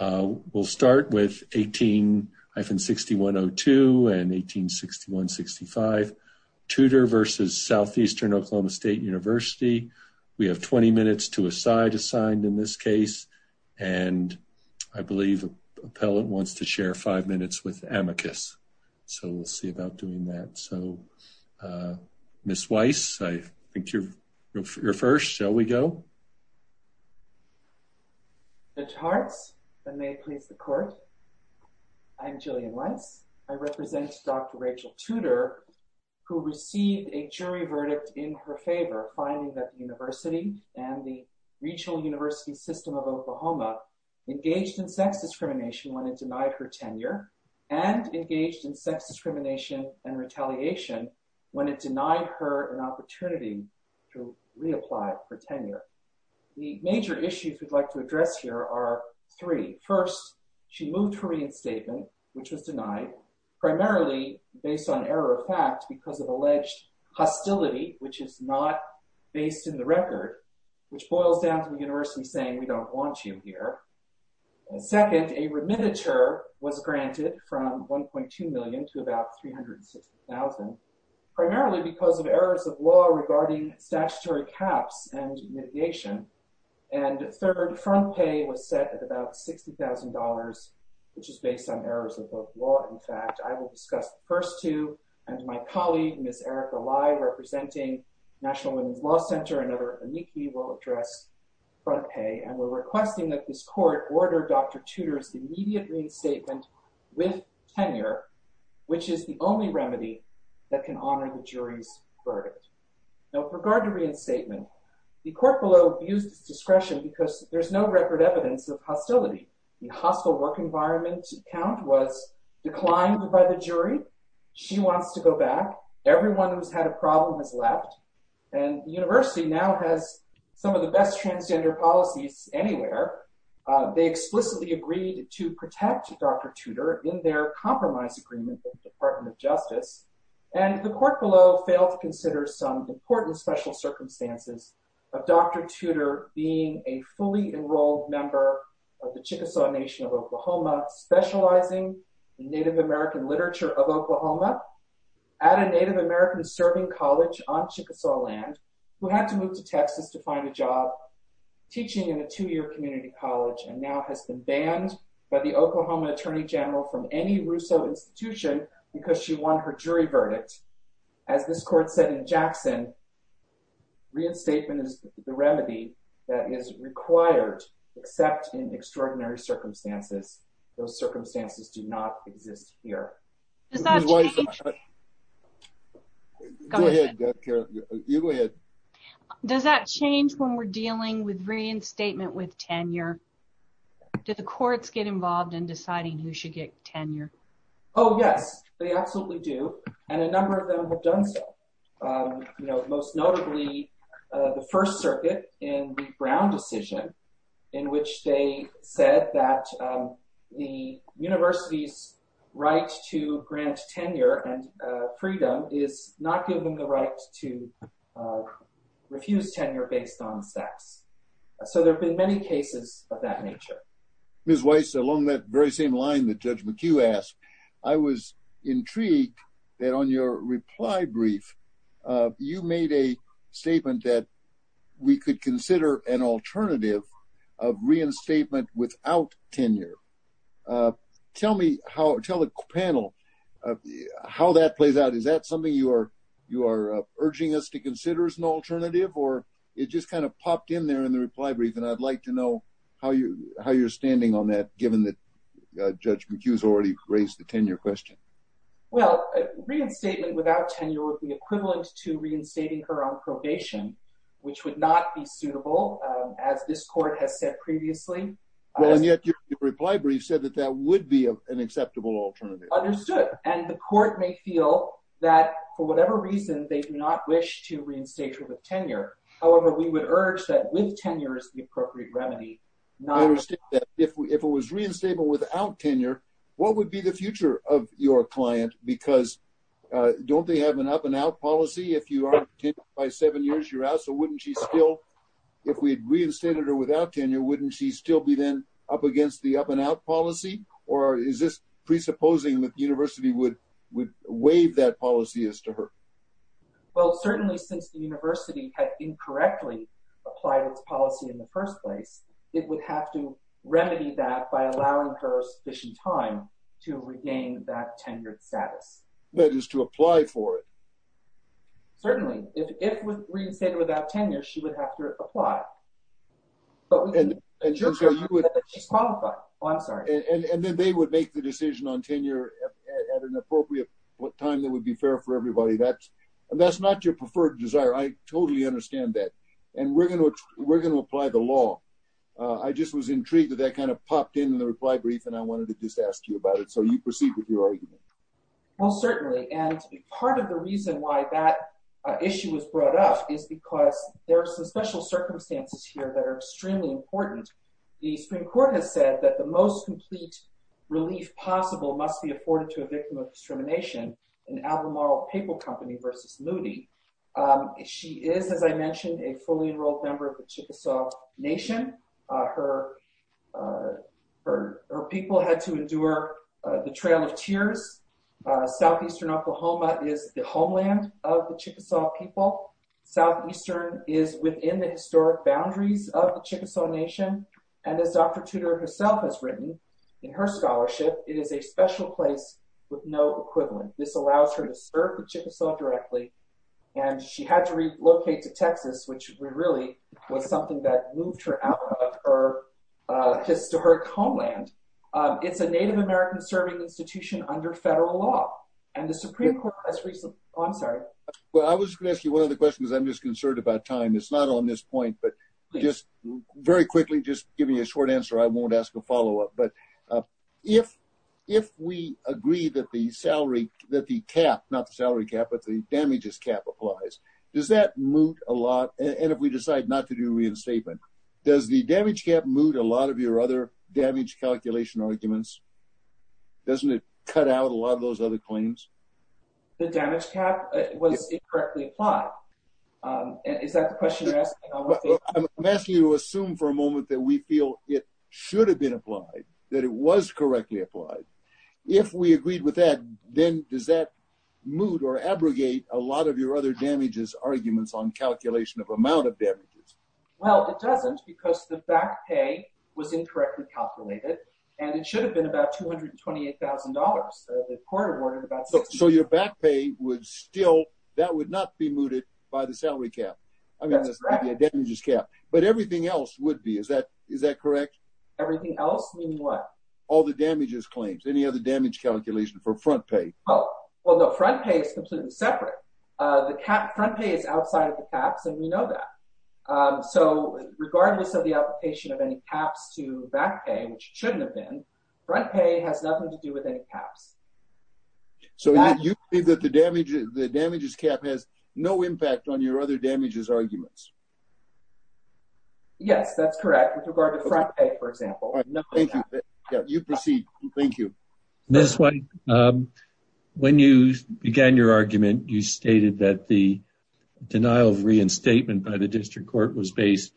We'll start with 18-6102 and 18-6165. Tudor v. Southeastern OK State University. We have 20 minutes to a side assigned in this case, and I believe an appellant wants to share five minutes with amicus, so we'll see about doing that. So, Ms. Weiss, I think you're first. Shall I may please the court. I'm Gillian Weiss. I represent Dr. Rachel Tudor, who received a jury verdict in her favor, finding that the university and the regional university system of Oklahoma engaged in sex discrimination when it denied her tenure and engaged in sex discrimination and retaliation when it denied her an opportunity to reapply for tenure. The major issues we'd like to address here are three. First, she moved her reinstatement, which was denied, primarily based on error of fact because of alleged hostility, which is not based in the record, which boils down to the university saying, we don't want you here. Second, a remittiture was granted from $1.2 million to about $360,000, primarily because of errors of law regarding statutory caps and mitigation. And third, front pay was set at about $60,000, which is based on errors of both law and fact. I will discuss the first two, and my colleague, Ms. Erica Lai, representing National Women's Law Center and other amici will address front pay, and we're requesting that this court order Dr. Tudor's immediate reinstatement with tenure, which is the only reinstatement. The court below abused its discretion because there's no record evidence of hostility. The hostile work environment count was declined by the jury. She wants to go back. Everyone who's had a problem has left, and the university now has some of the best transgender policies anywhere. They explicitly agreed to protect Dr. Tudor in their compromise agreement with the Department of Justice, and the court below failed to consider some important special circumstances of Dr. Tudor being a fully enrolled member of the Chickasaw Nation of Oklahoma, specializing in Native American literature of Oklahoma, at a Native American serving college on Chickasaw land, who had to move to Texas to find a job teaching in a two-year community college, and now has been banned by the Oklahoma Attorney General from any Russo institution because she won her jury verdict. As this court said in Jackson, reinstatement is the remedy that is required, except in extraordinary circumstances. Those circumstances do not exist here. Does that change when we're dealing with reinstatement with did the courts get involved in deciding who should get tenure? Oh yes, they absolutely do, and a number of them have done so. You know, most notably the First Circuit in the Brown decision in which they said that the university's right to grant tenure and freedom is not given the right to Ms. Weiss, along that very same line that Judge McHugh asked, I was intrigued that on your reply brief you made a statement that we could consider an alternative of reinstatement without tenure. Tell me, tell the panel how that plays out. Is that something you are urging us to consider as an alternative, or it just kind of popped in there in the reply brief, and I'd like to know how you're standing on that given that Judge McHugh's already raised the tenure question. Well, reinstatement without tenure would be equivalent to reinstating her on probation, which would not be suitable, as this court has said previously. And yet your reply brief said that that would be an acceptable alternative. Understood, and the court may feel that for whatever reason they do not wish to reinstate her with tenure. However, we would urge that with tenure is the appropriate remedy. If it was reinstated without tenure, what would be the future of your client? Because don't they have an up-and-out policy? If you aren't tenured by seven years, you're out, so wouldn't she still, if we had reinstated her without tenure, wouldn't she still be then up against the up-and-out policy? Or is this presupposing that the university would have incorrectly applied its policy in the first place? It would have to remedy that by allowing her sufficient time to regain that tenured status. That is, to apply for it. Certainly. If it was reinstated without tenure, she would have to apply. And then they would make the decision on tenure at an appropriate time that would be fair for her. We're going to apply the law. I just was intrigued that that kind of popped in in the reply brief, and I wanted to just ask you about it, so you proceed with your argument. Well, certainly, and part of the reason why that issue was brought up is because there are some special circumstances here that are extremely important. The Supreme Court has said that the most complete relief possible must be afforded to a victim of discrimination, an albemoral paper versus moody. She is, as I mentioned, a fully enrolled member of the Chickasaw Nation. Her people had to endure the Trail of Tears. Southeastern Oklahoma is the homeland of the Chickasaw people. Southeastern is within the historic boundaries of the Chickasaw Nation. And as Dr. Tudor herself has written in her scholarship, it is a special place with no directly, and she had to relocate to Texas, which really was something that moved her out of her historic homeland. It's a Native American serving institution under federal law, and the Supreme Court has recently—oh, I'm sorry. Well, I was going to ask you one other question because I'm just concerned about time. It's not on this point, but just very quickly, just giving you a short answer. I won't ask a follow-up, but if we agree that the salary—that the cap, not the salary cap, but the damages cap applies, does that moot a lot? And if we decide not to do reinstatement, does the damage cap moot a lot of your other damage calculation arguments? Doesn't it cut out a lot of those other claims? The damage cap was incorrectly applied. Is that the question you're asking? I'm asking you to assume for a moment that we feel it should have been applied, that it was correctly applied. If we agreed with that, then does that moot or abrogate a lot of your other damages arguments on calculation of amount of damages? Well, it doesn't because the back pay was incorrectly calculated, and it should have been about $228,000. The court awarded about $60,000. So your back pay would still—that would not be mooted by the salary cap. I mean, the damages cap. But everything else would be. Is that correct? Everything else? Meaning what? All the damages claims. Any other damage calculation for front pay? Oh, well, no. Front pay is completely separate. The front pay is outside of the caps, and we know that. So regardless of the application of any caps to back pay, which it shouldn't have been, front pay has nothing to do with any caps. So you believe that the damages cap has no impact on your other damages arguments? Yes, that's correct. With regard to front pay, for example. All right. Thank you. You proceed. Thank you. Ms. White, when you began your argument, you stated that the denial of reinstatement by the district court was based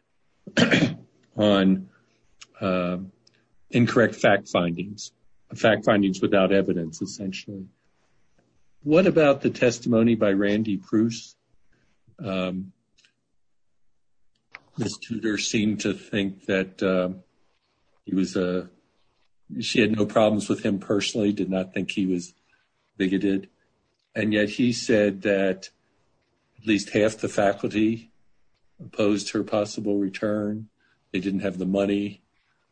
on incorrect fact findings, fact findings without evidence, essentially. What about the testimony by Randy Pruse? Ms. Tudor seemed to think that he was—she had no problems with him personally, did not think he was bigoted. And yet he said that at least half the faculty opposed her possible return. They didn't have the money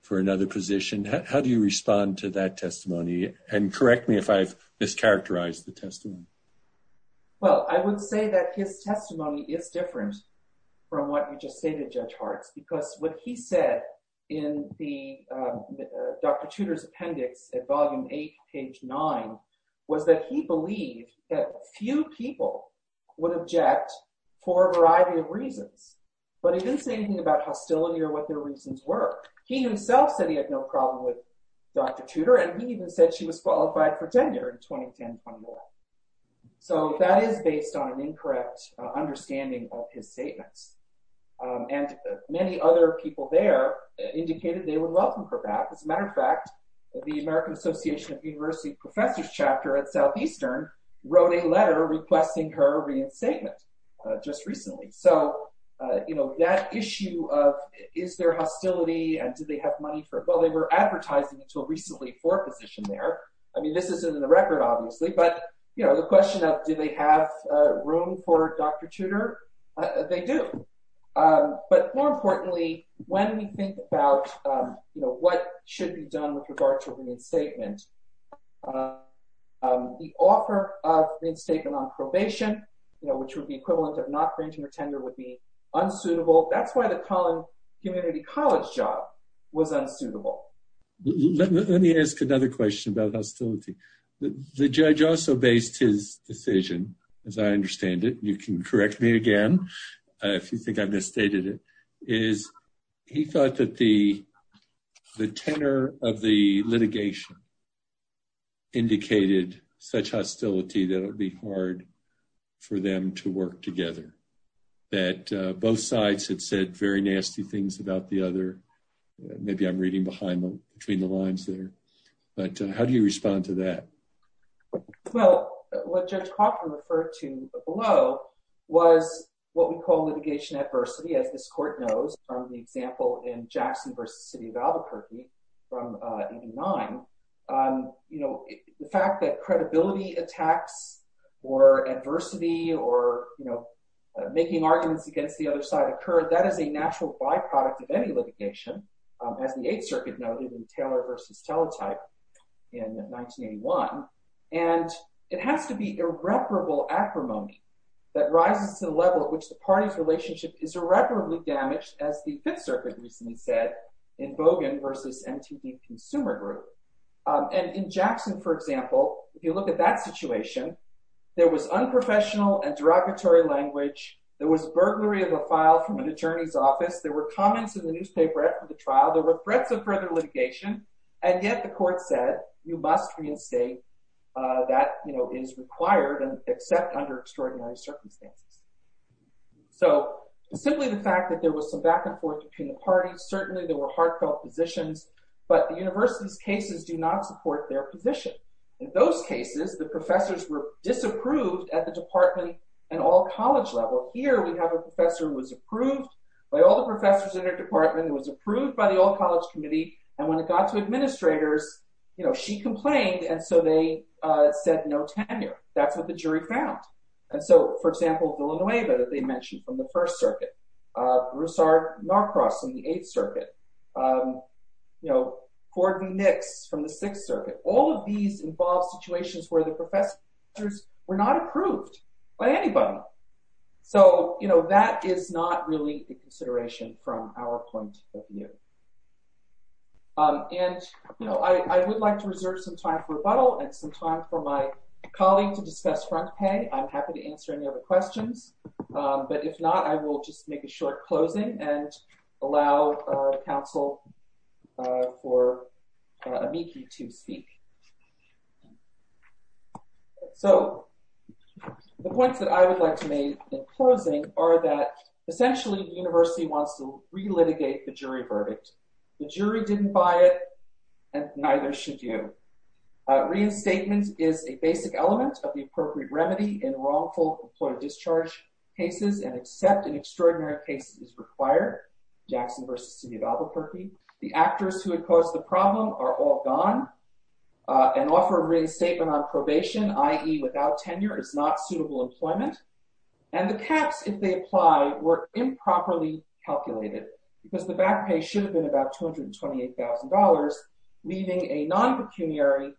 for another position. How do you respond to that testimony? And correct me if I've mischaracterized the testimony. Well, I would say that his testimony is different from what you just stated, Judge Harts, because what he said in Dr. Tudor's appendix at volume 8, page 9, was that he believed that few people would object for a variety of reasons. But he didn't say anything about hostility or what their reasons were. He himself said he had no problem with Dr. Tudor, and he even said she qualified for tenure in 2010. So that is based on an incorrect understanding of his statements. And many other people there indicated they would welcome her back. As a matter of fact, the American Association of University Professors chapter at Southeastern wrote a letter requesting her reinstatement just recently. So, you know, that issue of is there hostility and do they have money for it? Well, they were advertising until recently for a position there. I mean, this isn't in the record, obviously. But, you know, the question of do they have room for Dr. Tudor? They do. But more importantly, when we think about, you know, what should be done with regard to reinstatement, the offer of reinstatement on probation, you know, which would be equivalent of not granting her tenure, would be unsuitable. That's why the Collin Community College job was unsuitable. Let me ask another question about hostility. The judge also based his decision, as I understand it, you can correct me again, if you think I've misstated it, is he thought that the tenor of the litigation indicated such hostility that it would be hard for them to maybe I'm reading behind between the lines there. But how do you respond to that? Well, what Judge Crawford referred to below was what we call litigation adversity, as this court knows, from the example in Jackson v. City of Albuquerque from 89. You know, the fact that credibility attacks or adversity or, you know, making arguments against the other side occur, that is a natural byproduct of any litigation, as the Eighth Circuit noted in Taylor v. Teletype in 1981. And it has to be irreparable acrimony that rises to the level at which the party's relationship is irreparably damaged, as the Fifth Circuit recently said in Bogan v. MTV Consumer Group. And in Jackson, for example, if you look at that situation, there was unprofessional and derogatory language, there was burglary of a file from an attorney's office, there were comments in the newspaper after the trial, there were threats of further litigation. And yet the court said, you must reinstate that, you know, is required and accept under extraordinary circumstances. So simply the fact that there was some back and forth between the parties, certainly there were heartfelt positions, but the university's cases do not support their position. In those cases, the professors were disapproved at the department and all college level. Here we have a professor who was approved by all the professors in her department, who was approved by the all-college committee. And when it got to administrators, you know, she complained, and so they said no tenure. That's what the jury found. And so, for example, Villanueva that they mentioned from the First Circuit, Broussard-Narcross from the Eighth Circuit, you know, Gordon Nix from the Sixth Circuit, all of these involve situations where the professors were not approved by anybody. So, you know, that is not really a consideration from our point of view. And, you know, I would like to reserve some time for rebuttal and some time for my colleague to discuss front pay. I'm happy to answer any other questions, but if not, I will just make a short closing and allow counsel for Amiki to speak. So, the points that I would like to make in closing are that essentially the university wants to re-litigate the jury verdict. The jury didn't buy it, and neither should you. Reinstatement is a basic element of the appropriate remedy in wrongful employer discharge cases, and except in extraordinary cases required, Jackson v. City of Albuquerque, the actors who had caused the problem are all gone. An offer of reinstatement on probation, i.e. without tenure, is not suitable employment. And the caps, if they apply, were improperly calculated because the back pay should have been about $228,000, leaving a non-pecuniary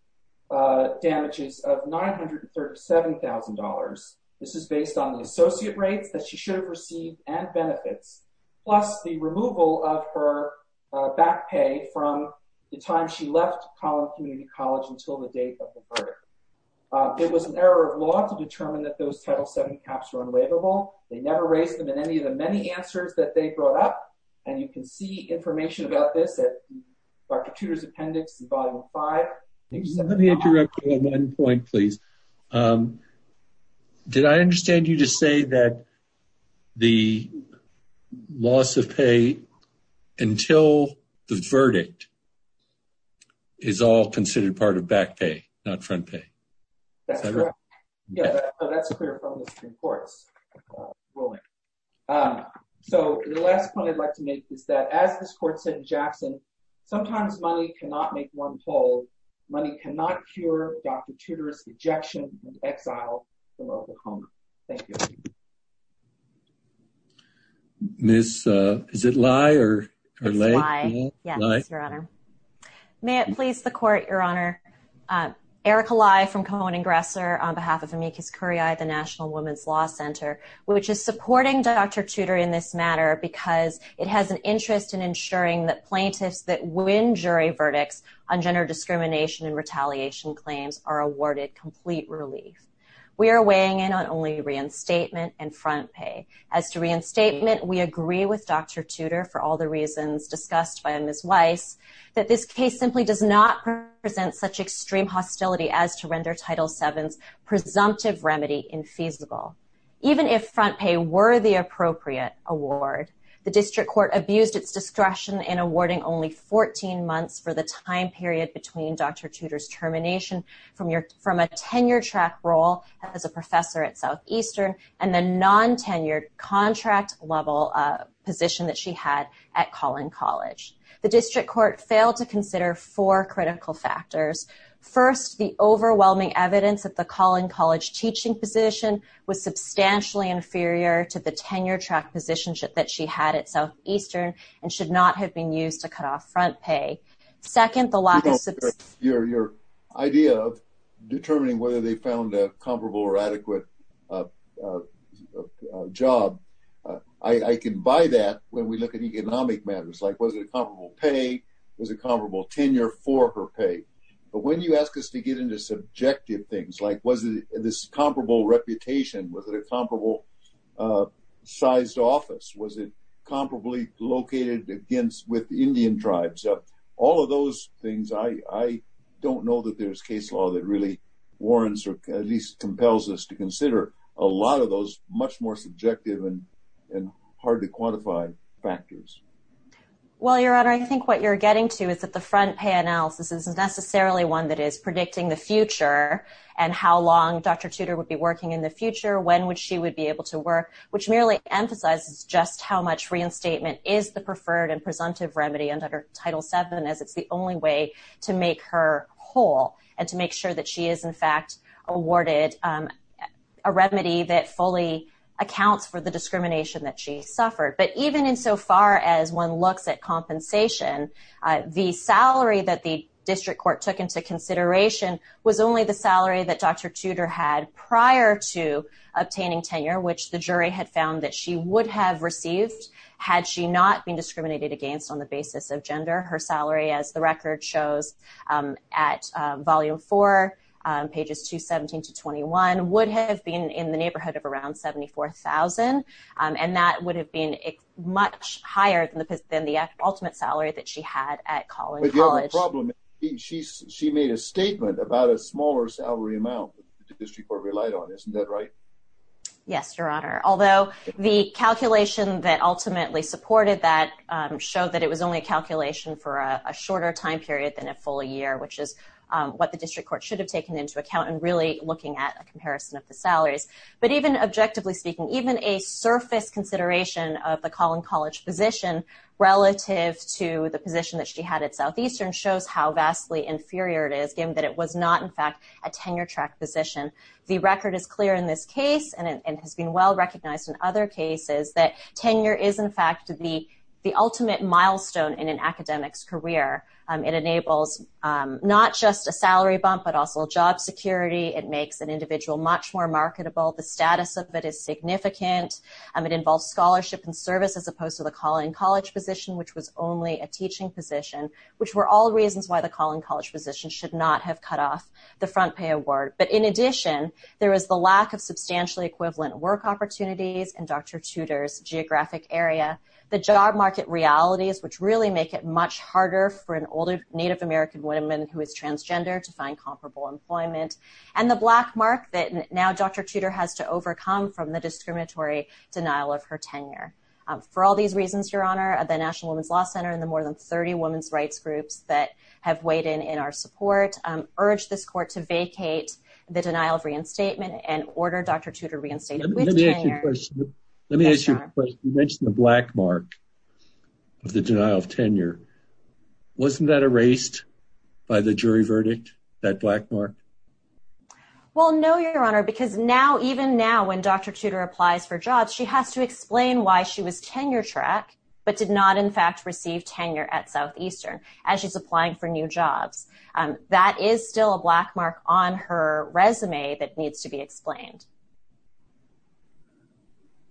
damages of $937,000. This is based on the associate rates that she should have received and benefits, plus the removal of her back pay from the time she left Collin Community College until the date of the verdict. It was an error of law to determine that those Title VII caps were unwaverable. They never raised them in any of the many answers that they brought up, and you can see information about this at Dr. Tudor's appendix in Volume 5. Let me interrupt you on one point, please. Did I understand you to say that the loss of pay until the verdict is all considered part of back pay, not front pay? That's correct. That's clear from the Supreme Court's ruling. So, the last point I'd like to make is that, as this Court said in Jackson, sometimes money cannot make one whole. Money cannot cure Dr. Tudor's rejection and exile from Oklahoma. Thank you. Miss, is it Lai or? Yes, Your Honor. May it please the Court, Your Honor? Erica Lai from Cohen & Gresser on behalf of Amicus Curiae, the National Women's Law Center, which is supporting Dr. Tudor in this matter because it has an interest in ensuring that plaintiffs that win jury verdicts on gender discrimination and retaliation claims are awarded complete relief. We are weighing in on only reinstatement and front pay. As to reinstatement, we agree with Dr. Tudor, for all the reasons discussed by Ms. Weiss, that this case simply does not present such extreme hostility as to render Title VII's presumptive remedy infeasible. Even if front pay were the appropriate award, the District Court abused its discretion in awarding only 14 months for the time period between Dr. Tudor's termination from a tenure-track role as a professor at Southeastern and the non-tenured contract-level position that she had at Collin College. The District Court failed to consider four critical factors. First, the overwhelming evidence that the Collin College teaching position was substantially inferior to the tenure-track position that she had at Southeastern and should not have been used to cut off front pay. Second, the lack of... your idea of determining whether they found a comparable or adequate job. I can buy that when we look at economic matters, like was it a comparable pay? Was it comparable tenure for her pay? But when you ask us to get into subjective things, like was it this comparable reputation? Was it a comparable-sized office? Was it located with Indian tribes? All of those things, I don't know that there's case law that really warrants or at least compels us to consider a lot of those much more subjective and hard to quantify factors. Well, Your Honor, I think what you're getting to is that the front pay analysis is necessarily one that is predicting the future and how long Dr. Tudor would be working in the preferred and presumptive remedy under Title VII as it's the only way to make her whole and to make sure that she is, in fact, awarded a remedy that fully accounts for the discrimination that she suffered. But even insofar as one looks at compensation, the salary that the district court took into consideration was only the salary that Dr. Tudor had prior to obtaining tenure, which the jury had found that she would have received had she not been discriminated against on the basis of gender. Her salary, as the record shows at volume four, pages 217 to 21, would have been in the neighborhood of around $74,000, and that would have been much higher than the ultimate salary that she had at Collin College. But you have a problem. She made a statement about a smaller salary amount that the district court relied on. Isn't that right? Yes, Your Honor. Although the calculation that ultimately supported that showed that it was only a calculation for a shorter time period than a full year, which is what the district court should have taken into account in really looking at a comparison of the salaries. But even objectively speaking, even a surface consideration of the Collin College position relative to the position that she had at Southeastern shows how vastly inferior it is given that it was not, in fact, a tenure-track position. The record is clear in this case, and it has been well recognized in other cases, that tenure is, in fact, the ultimate milestone in an academic's career. It enables not just a salary bump, but also job security. It makes an individual much more marketable. The status of it is significant. It involves scholarship and service as opposed to the Collin College position, which was only a teaching position, which were all reasons why the Collin College position should not have cut off the front pay award. But in addition, there is the lack of substantially equivalent work opportunities in Dr. Tudor's geographic area, the job market realities, which really make it much harder for an older Native American woman who is transgender to find comparable employment, and the black mark that now Dr. Tudor has to overcome from the discriminatory denial of her tenure. For all these reasons, Your Honor, the National Women's Law Center and the more than 30 women's rights groups that have weighed in in our support urge this court to vacate the denial of reinstatement and order Dr. Tudor reinstated with tenure. Let me ask you a question. You mentioned the black mark of the denial of tenure. Wasn't that erased by the jury verdict, that black mark? Well, no, Your Honor, because now, even now, when Dr. Tudor applies for jobs, she has to explain why she was tenure track, but did not, in fact, receive tenure at Southeastern as she's applying for new jobs. That is still a black mark on her resume that needs to be explained.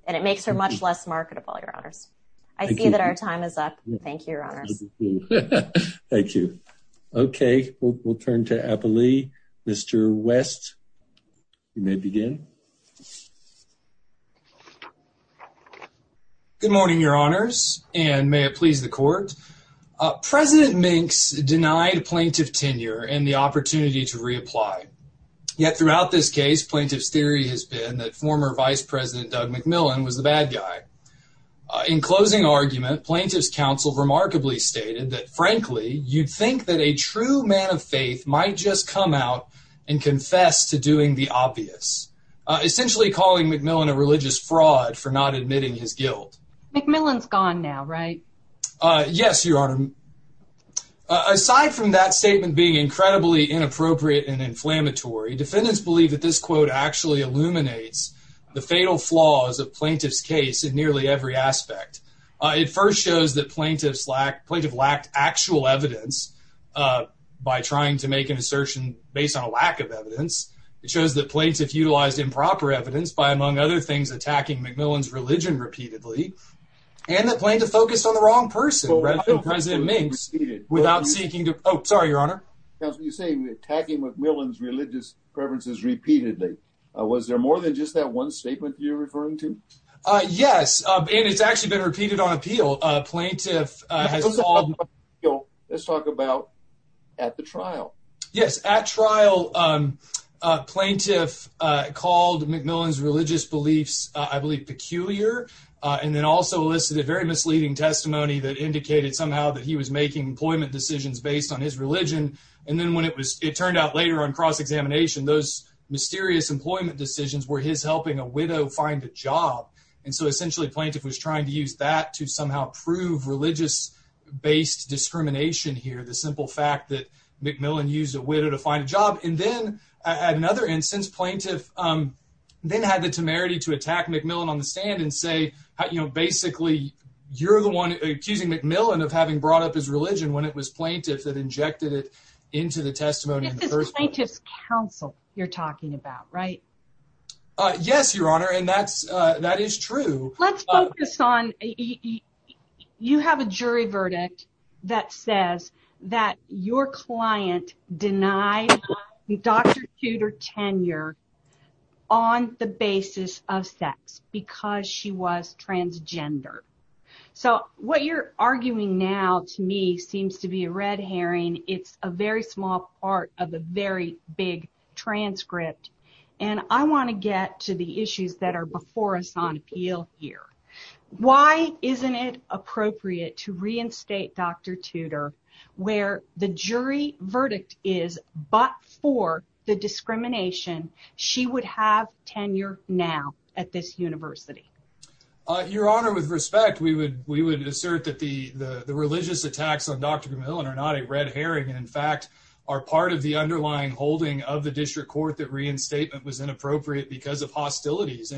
And it makes her much less marketable, Your Honors. I see that our time is up. Thank you, Your Honors. Thank you. Okay, we'll turn to Apolli. Mr. West, you may begin. Good morning, Your Honors, and may it please the court. President Minx denied plaintiff tenure and the opportunity to reapply. Yet, throughout this case, plaintiff's theory has been that former Vice President Doug McMillan was the bad guy. In closing argument, plaintiff's counsel remarkably stated that, frankly, you'd think that a true man of faith might just come out and confess to doing the obvious, essentially calling McMillan a religious fraud for not admitting his guilt. McMillan's gone now, right? Yes, Your Honor. Aside from that statement being incredibly inappropriate and inflammatory, defendants believe that this quote actually illuminates the fatal flaws of plaintiff's case in nearly every aspect. It first shows that plaintiff lacked actual evidence by trying to make an assertion based on a lack of evidence. It shows that plaintiff utilized improper evidence by, among other things, attacking McMillan's religion repeatedly, and that plaintiff focused on the wrong person, President Minx, without seeking to... Sorry, Your Honor. Counsel, you say attacking McMillan's religious preferences repeatedly. Was there more than just that one statement you're referring to? Yes, and it's actually been repeated on appeal. Plaintiff has called... Let's talk about at the trial. Yes, at trial, plaintiff called McMillan's religious beliefs, I believe, peculiar, and then also elicited a very misleading testimony that indicated somehow that he was making employment decisions based on his religion. And then when it turned out later on cross-examination, those mysterious employment decisions were his helping a widow find a job. And so essentially, plaintiff was trying to use that to somehow prove religious-based discrimination here, the simple fact that McMillan used a widow to find a job. And then, at another instance, plaintiff then had the temerity to attack McMillan on the stand and say, basically, you're the one accusing McMillan of having brought up his religion when it was plaintiff that injected it into the testimony in the first place. This is plaintiff's counsel you're talking about, right? Yes, Your Honor, and that is true. Let's focus on... You have a jury verdict that says that your client denied Dr. Tudor tenure on the basis of sex because she was transgender. So, what you're arguing now, to me, seems to be a red herring. It's a very small part of a very big transcript, and I want to get to the issues that are before us on appeal here. Why isn't it appropriate to but for the discrimination, she would have tenure now at this university? Your Honor, with respect, we would assert that the religious attacks on Dr. McMillan are not a red herring and, in fact, are part of the underlying holding of the district court that reinstatement was inappropriate because of hostilities.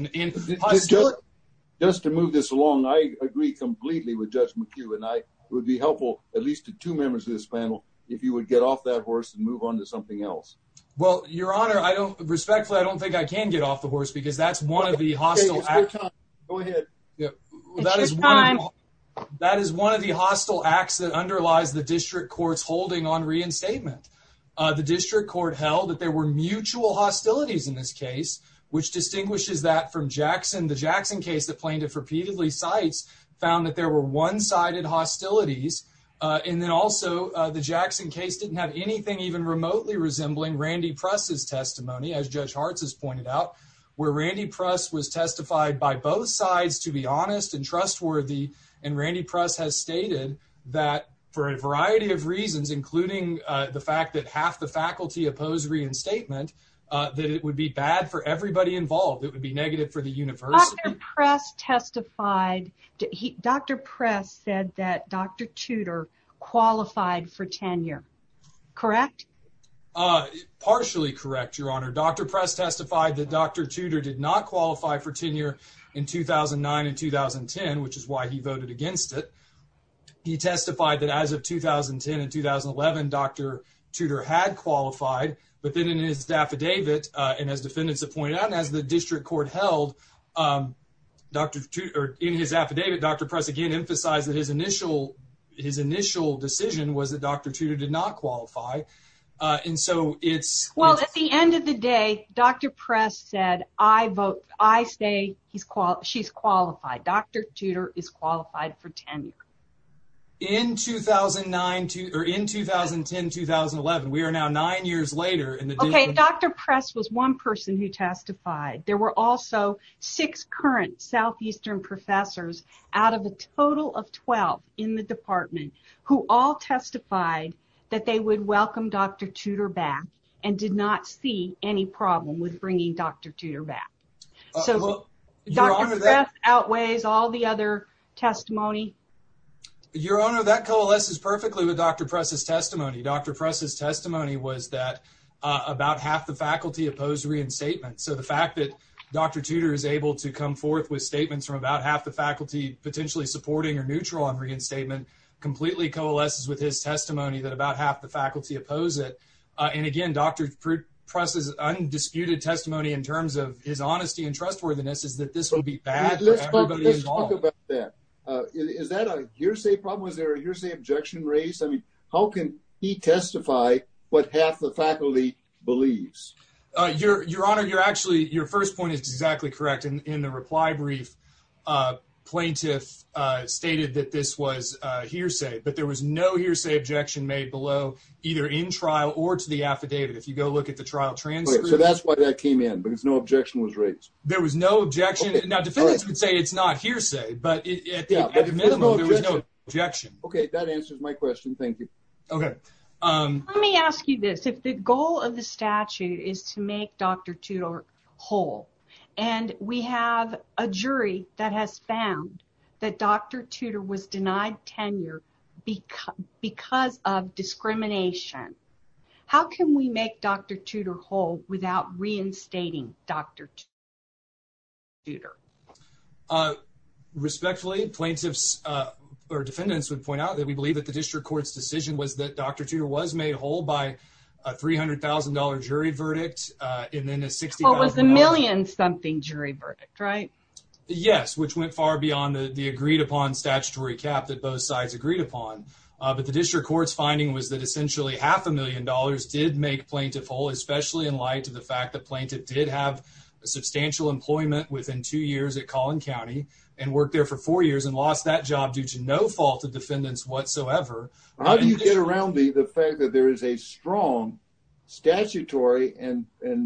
Just to move this along, I agree completely with Judge McHugh, and it would be helpful, at least to two members of this panel, if you would get off that horse and move on to something else. Well, Your Honor, respectfully, I don't think I can get off the horse because that's one of the hostile... Go ahead. That is one of the hostile acts that underlies the district court's holding on reinstatement. The district court held that there were mutual hostilities in this case, which distinguishes that from Jackson. The Jackson case that plaintiff repeatedly cites found that there were one-sided hostilities. And then also, the Jackson case didn't have anything even remotely resembling Randy Press's testimony, as Judge Hartz has pointed out, where Randy Press was testified by both sides to be honest and trustworthy. And Randy Press has stated that for a variety of reasons, including the fact that half the faculty opposed reinstatement, that it would be bad for everybody involved. It would be negative for the university. Dr. Press testified... Dr. Press said that Dr. Tudor qualified for tenure. Correct? Partially correct, Your Honor. Dr. Press testified that Dr. Tudor did not qualify for tenure in 2009 and 2010, which is why he voted against it. He testified that as of 2010 and 2011, Dr. Tudor had qualified, but then in his affidavit, and as defendants have pointed out, as the district court held, in his affidavit, Dr. Press again emphasized that his initial decision was that Dr. Tudor did not qualify. And so, it's... Well, at the end of the day, Dr. Press said, I say she's qualified. Dr. Tudor is qualified for tenure. In 2009, or in 2010, 2011, we are now nine years later in the district... Okay, Dr. Press was one person who testified. There were also six current Southeastern professors out of a total of 12 in the department who all testified that they would welcome Dr. Tudor back and did not see any problem with bringing Dr. Tudor back. So, Dr. Press outweighs all the other testimony. Your Honor, that coalesces perfectly with Dr. Press' testimony. Dr. Press' testimony was that about half the faculty opposed reinstatement. So, the fact that Dr. Tudor is able to come forth with statements from about half the faculty potentially supporting or neutral on reinstatement completely coalesces with his testimony that about half the faculty oppose it. And again, Dr. Press' undisputed testimony in terms of his honesty and trustworthiness is that this will be bad for everybody involved. Let's talk about that. Is that a hearsay problem? Was there a hearsay objection raised? I mean, how can he testify what half the faculty believes? Your Honor, you're actually... Your first point is exactly correct. In the reply brief, plaintiff stated that this was hearsay, but there was no hearsay objection made below either in trial or to the affidavit. If you go look at the trial transcript... So, that's why that came in, because no objection was raised. There was no objection. Now, defendants would say it's not hearsay, but at the minimum, there was no objection. Okay. That answers my question. Thank you. Okay. Let me ask you this. If the goal of the statute is to make Dr. Tudor whole, and we have a jury that has found that Dr. Tudor was denied tenure because of discrimination, how can we make Dr. Tudor whole without reinstating Dr. Tudor? Respectfully, plaintiffs or defendants would point out that we believe that the district court's decision was that Dr. Tudor was made whole by a $300,000 jury verdict and then a $60,000... Well, it was a million-something jury verdict, right? Yes, which went far beyond the agreed-upon statutory cap that both sides agreed upon. But the district court's finding was that essentially half a million dollars did make plaintiff whole, especially in light of the fact that plaintiff did have substantial employment within two years at Collin County and worked there for four years and lost that job due to no fault of defendants whatsoever. How do you get around the fact that there is a strong statutory and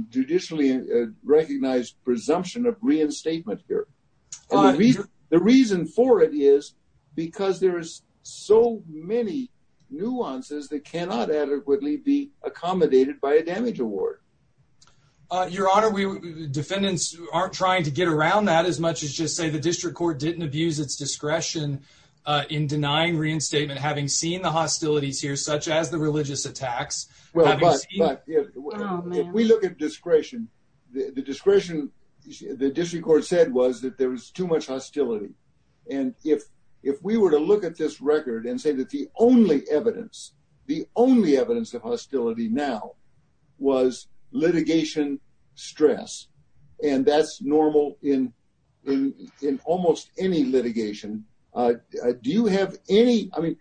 judicially recognized presumption of reinstatement here? The reason for it is because there is so many nuances that cannot adequately be accommodated by a damage award. Your Honor, defendants aren't trying to get around that as much as just say the district court didn't abuse its discretion in denying reinstatement, having seen the hostilities here, such as the religious attacks. But if we look at discretion, the discretion the district court said was that there was too much hostility. And if we were to look at this record and say that the only evidence, the only evidence of hostility now was litigation stress, and that's in in in almost any litigation. Do you have any? I mean,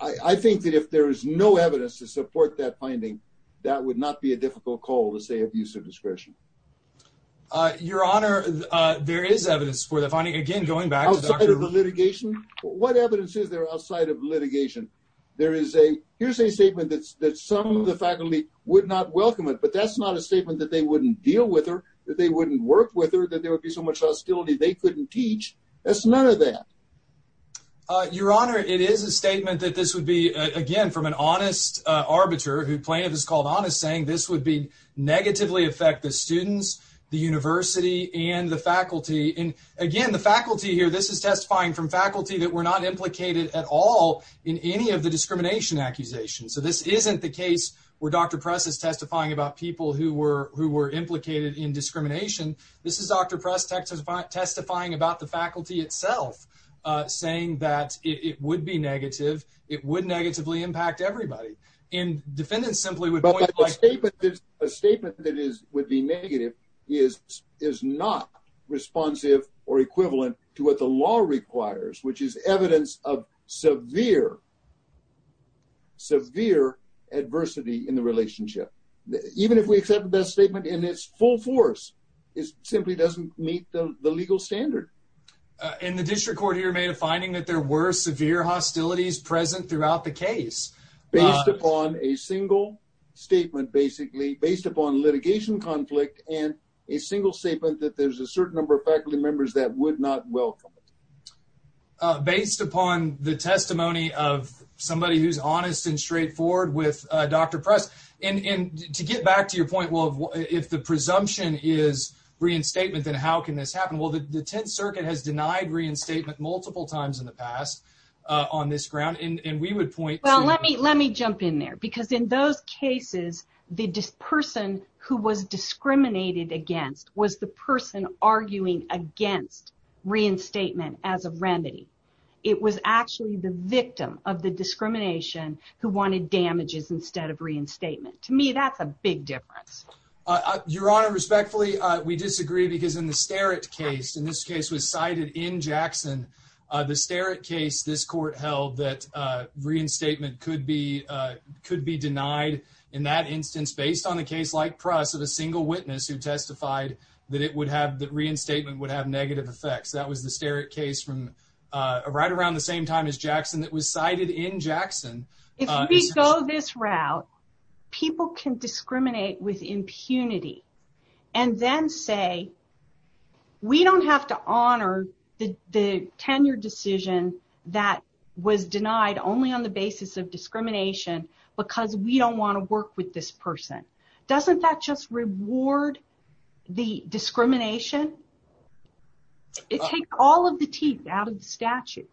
I think that if there is no evidence to support that finding, that would not be a difficult call to say abuse of discretion. Your Honor, there is evidence for the finding. Again, going back to the litigation, what evidence is there outside of litigation? There is a here's a statement that some of the faculty would not welcome it, but that's not a statement that they wouldn't deal with her, that they wouldn't work with her, that there would be so much hostility they couldn't teach. That's none of that. Your Honor, it is a statement that this would be, again, from an honest arbiter who plaintiff is called honest, saying this would be negatively affect the students, the university and the faculty. And again, the faculty here, this is testifying from faculty that were not implicated at all in any of the discrimination accusations. So this isn't the discrimination. This is Dr. Press Texas testifying about the faculty itself, saying that it would be negative. It would negatively impact everybody in defendants simply with a statement that is would be negative, is is not responsive or equivalent to what the law requires, which is evidence of severe. Severe adversity in the relationship, even if we accept the best statement in its full force is simply doesn't meet the legal standard in the district court here, made a finding that there were severe hostilities present throughout the case based upon a single statement, basically based upon litigation conflict and a single statement that there's a certain number of faculty members that would not welcome based upon the testimony of somebody who's honest and presumption is reinstatement, then how can this happen? Well, the 10th Circuit has denied reinstatement multiple times in the past on this ground, and we would point. Well, let me let me jump in there, because in those cases, the person who was discriminated against was the person arguing against reinstatement as a remedy. It was actually the victim of the discrimination who wanted damages instead of reinstatement. To me, that's a big difference. Your Honor, respectfully, we disagree because in the stare at case in this case was cited in Jackson, the stare at case this court held that reinstatement could be could be denied. In that instance, based on the case like press of a single witness who testified that it would have that reinstatement would have negative effects. That was the stare at case from right around the same time as Jackson that was cited in Jackson. If we go this route, people can discriminate with impunity, and then say, we don't have to honor the tenure decision that was denied only on the basis of discrimination, because we don't want to work with this person. Doesn't that just reward the discrimination? It takes all of the teeth out of the statute.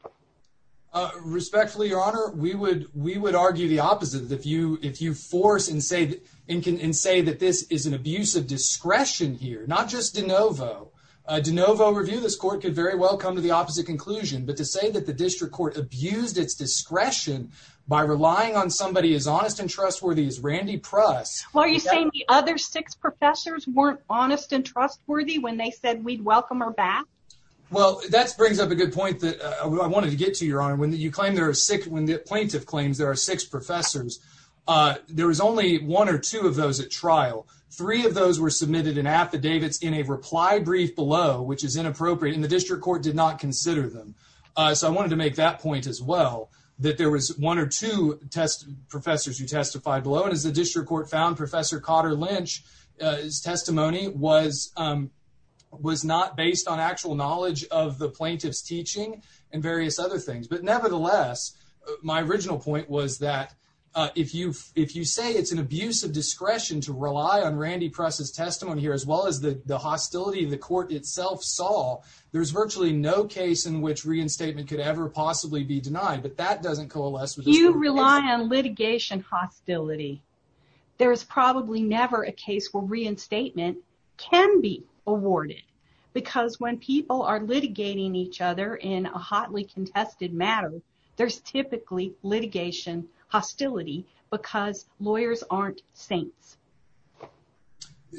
Respectfully, Your Honor, we would we would argue the opposite. If you if you force and say and can and say that this is an abuse of discretion here, not just de novo, de novo review, this court could very well come to the opposite conclusion. But to say that the district court abused its discretion by relying on somebody as honest and trustworthy as Randy Pruss. Why are you saying the other six professors weren't honest and trustworthy when they said we'd welcome her back? Well, that's brings up a good point that I wanted to get to your honor when you claim there are six when the plaintiff claims there are six professors. There was only one or two of those at trial. Three of those were submitted in affidavits in a reply brief below, which is inappropriate in the district court did not consider them. So I wanted to make that point as well, that there was one or two test professors who testified below. And as the district court found, Professor Cotter Lynch's testimony was was not based on actual knowledge of the plaintiff's teaching and various other things. But nevertheless, my original point was that if you if you say it's an abuse of discretion to rely on Randy Pruss's testimony here, as well as the hostility of the that doesn't coalesce with you rely on litigation hostility. There is probably never a case where reinstatement can be awarded. Because when people are litigating each other in a hotly contested matter, there's typically litigation hostility because lawyers aren't saints.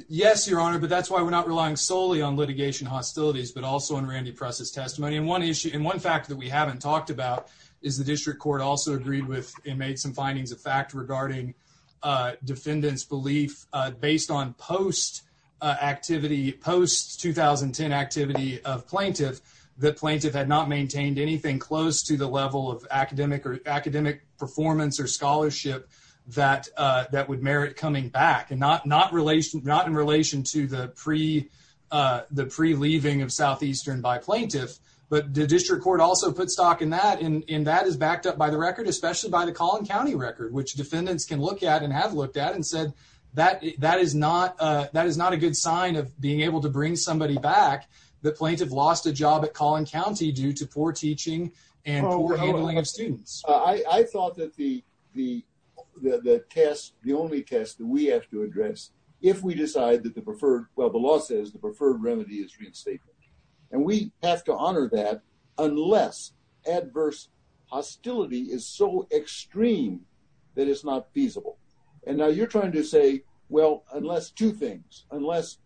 Yes, Your Honor, but that's why we're not relying solely on litigation hostilities, but also on Randy Pruss's testimony. And one issue and one fact that we haven't talked about is the district court also agreed with and made some findings of fact regarding defendants belief based on post activity post 2010 activity of plaintiff, the plaintiff had not maintained anything close to the level of academic or academic performance or scholarship that that would merit coming back and not not relation not in relation to the pre the pre leaving of southeastern by plaintiff. But the district court also put stock in that in that is backed up by the record, especially by the Collin County record, which defendants can look at and have looked at and said that that is not that is not a good sign of being able to bring somebody back. The plaintiff lost a job at Collin County due to poor teaching and handling of students. I thought that the the test, the only test that we have to address, if we decide that preferred well, the law says the preferred remedy is reinstatement. And we have to honor that, unless adverse hostility is so extreme, that it's not feasible. And now you're trying to say, well, unless two things, unless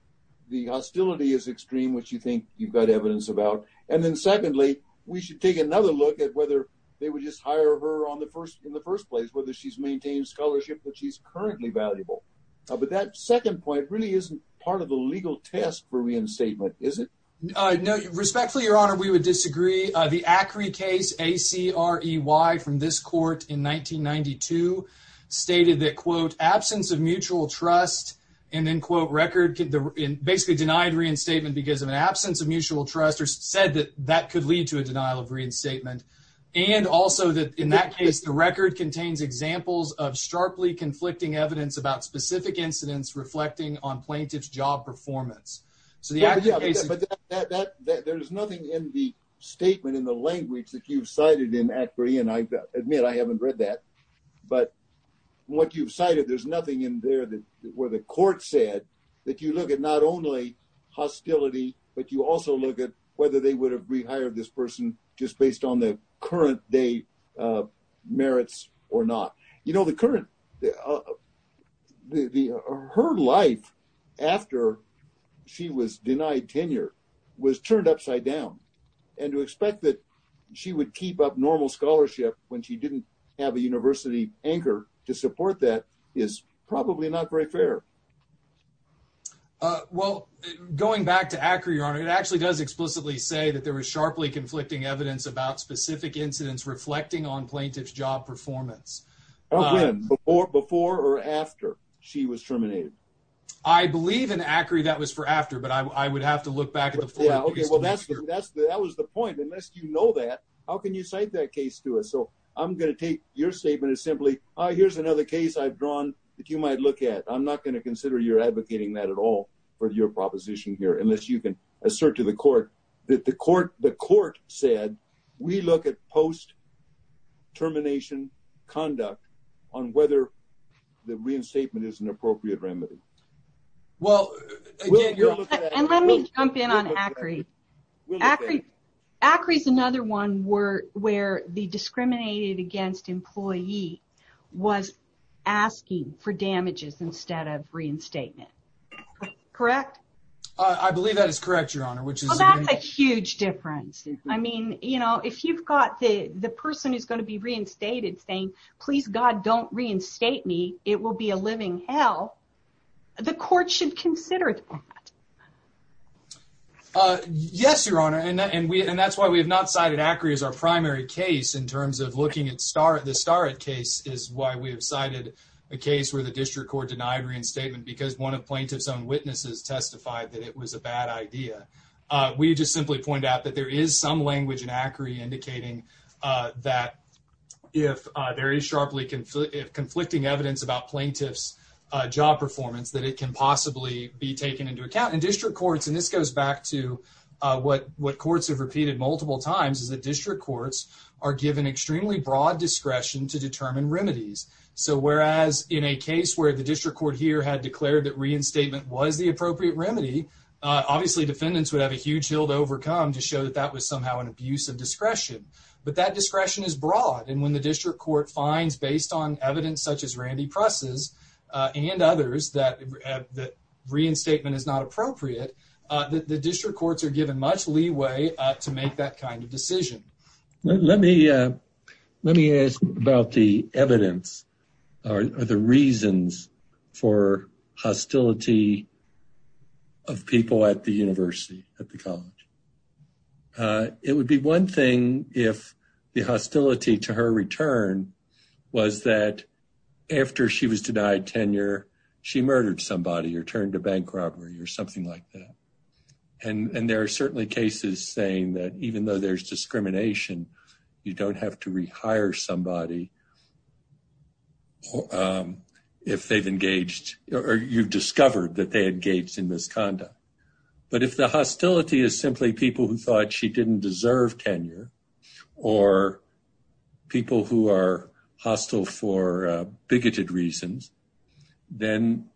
the hostility is extreme, which you think you've got evidence about. And then secondly, we should take another look at whether they would just hire her on the first in the first place, whether she's maintained scholarship that she's currently valuable. But that second point really isn't part of the legal test for reinstatement, is it? No. Respectfully, Your Honor, we would disagree. The Acri case A. C. R. E. Y. from this court in 1992 stated that quote absence of mutual trust and then quote record basically denied reinstatement because of an absence of mutual trust or said that that could lead to a denial of reinstatement. And also that in that case, the record contains examples of sharply conflicting evidence about specific incidents reflecting on plaintiff's job performance. So the A. C. R. E. Y. But that there is nothing in the statement in the language that you've cited in A. C. R. E. Y. and I admit I haven't read that. But what you've cited, there's nothing in there that where the court said that you look at not only hostility, but you also look at whether they would have rehired this person just based on the current day merits or not. You know, the current, her life after she was denied tenure was turned upside down. And to expect that she would keep up normal scholarship when she didn't have a university anchor to support that is probably not very fair. Well, going back to Acri, Your Honor, it actually does explicitly say that there is sharply conflicting evidence about specific incidents reflecting on plaintiff's job performance or before or after she was terminated. I believe in Acri that was for after, but I would have to look back at the four. Okay, well, that's that's that was the point. Unless you know that, how can you cite that case to us? So I'm going to take your statement is simply here's another case I've drawn that you might look at. I'm not going to consider your advocating that at all for your proposition here, unless you can assert to the court that the court, the court said, we look at post termination conduct on whether the reinstatement is an appropriate remedy. Well, let me jump in on Acri. Acri is another one where the discriminated against employee was asking for damages instead of reinstatement. Correct? I believe that is correct, Your Honor, which is a huge difference. I mean, you know, if you've got the the person who's going to be reinstated saying, please, God, don't reinstate me, it will be a living hell. The court should consider that. Yes, Your Honor. And we and that's why we have not cited Acri as our primary case in terms of looking at the Starrett case is why we have cited a case where the district court denied reinstatement because one of plaintiff's own witnesses testified that it was a bad idea. We just simply point out that there is some language in Acri indicating that if there is sharply conflicting evidence about plaintiff's job performance, that it can possibly be taken into account in district courts. And this goes back to what what courts have repeated multiple times is that district courts are given extremely broad discretion to determine remedies. So, whereas in a case where the district court here had declared that reinstatement was the appropriate remedy, obviously, defendants would have a huge hill to overcome to show that that was somehow an abuse of discretion. But that discretion is broad. And when the district court finds, based on evidence such as Randy Press's and others, that that reinstatement is not appropriate, the district courts are given much leeway to make that kind of decision. Let me let me ask about the evidence or the reasons for hostility of people at the university, at the college. It would be one thing if the hostility to her return was that after she was denied tenure, she murdered somebody or turned to bank robbery or something like that. And there are certainly cases saying that even though there's discrimination, you don't have to rehire somebody if they've engaged or you've discovered that they engaged in misconduct. But if the hostility is simply people who thought she didn't deserve tenure or people who are hostile for bigoted reasons, then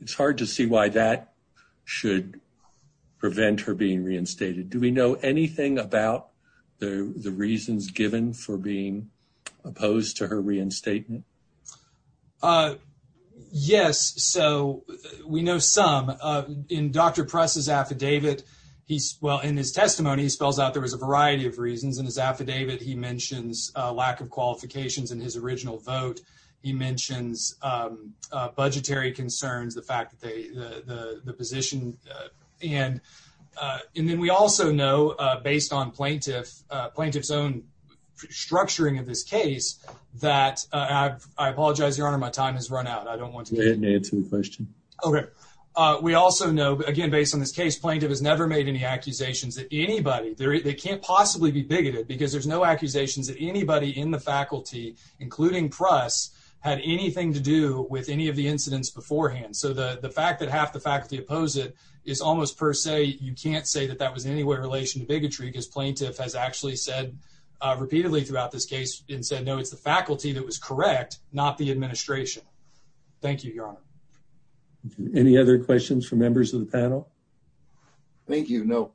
it's hard to see why that should prevent her being reinstated. Do we know anything about the reasons given for being opposed to her reinstatement? Yes. So, we know some. In Dr. Press's affidavit, well, in his testimony, he spells out there was a variety of reasons. In his affidavit, he mentions a lack of qualifications in his original vote. He mentions budgetary concerns, the fact that they the position. And then we also know, based on plaintiff's own structuring of this case, that I apologize, your honor, my time has run out. I don't want to answer the question. Okay. We also know, again, based on this case, plaintiff has never made any accusations that anybody, they can't possibly be bigoted because there's no accusations that anybody in the faculty, including Press, had anything to do with any of the incidents beforehand. So, the fact that half the faculty oppose it is almost per se, you can't say that that was in any way relation to bigotry because plaintiff has actually said repeatedly throughout this case and said, no, it's the faculty that was correct, not the administration. Thank you, your honor. Any other questions for members of the panel? Thank you. No.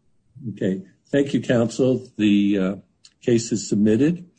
Okay. Thank you, counsel. The case is submitted.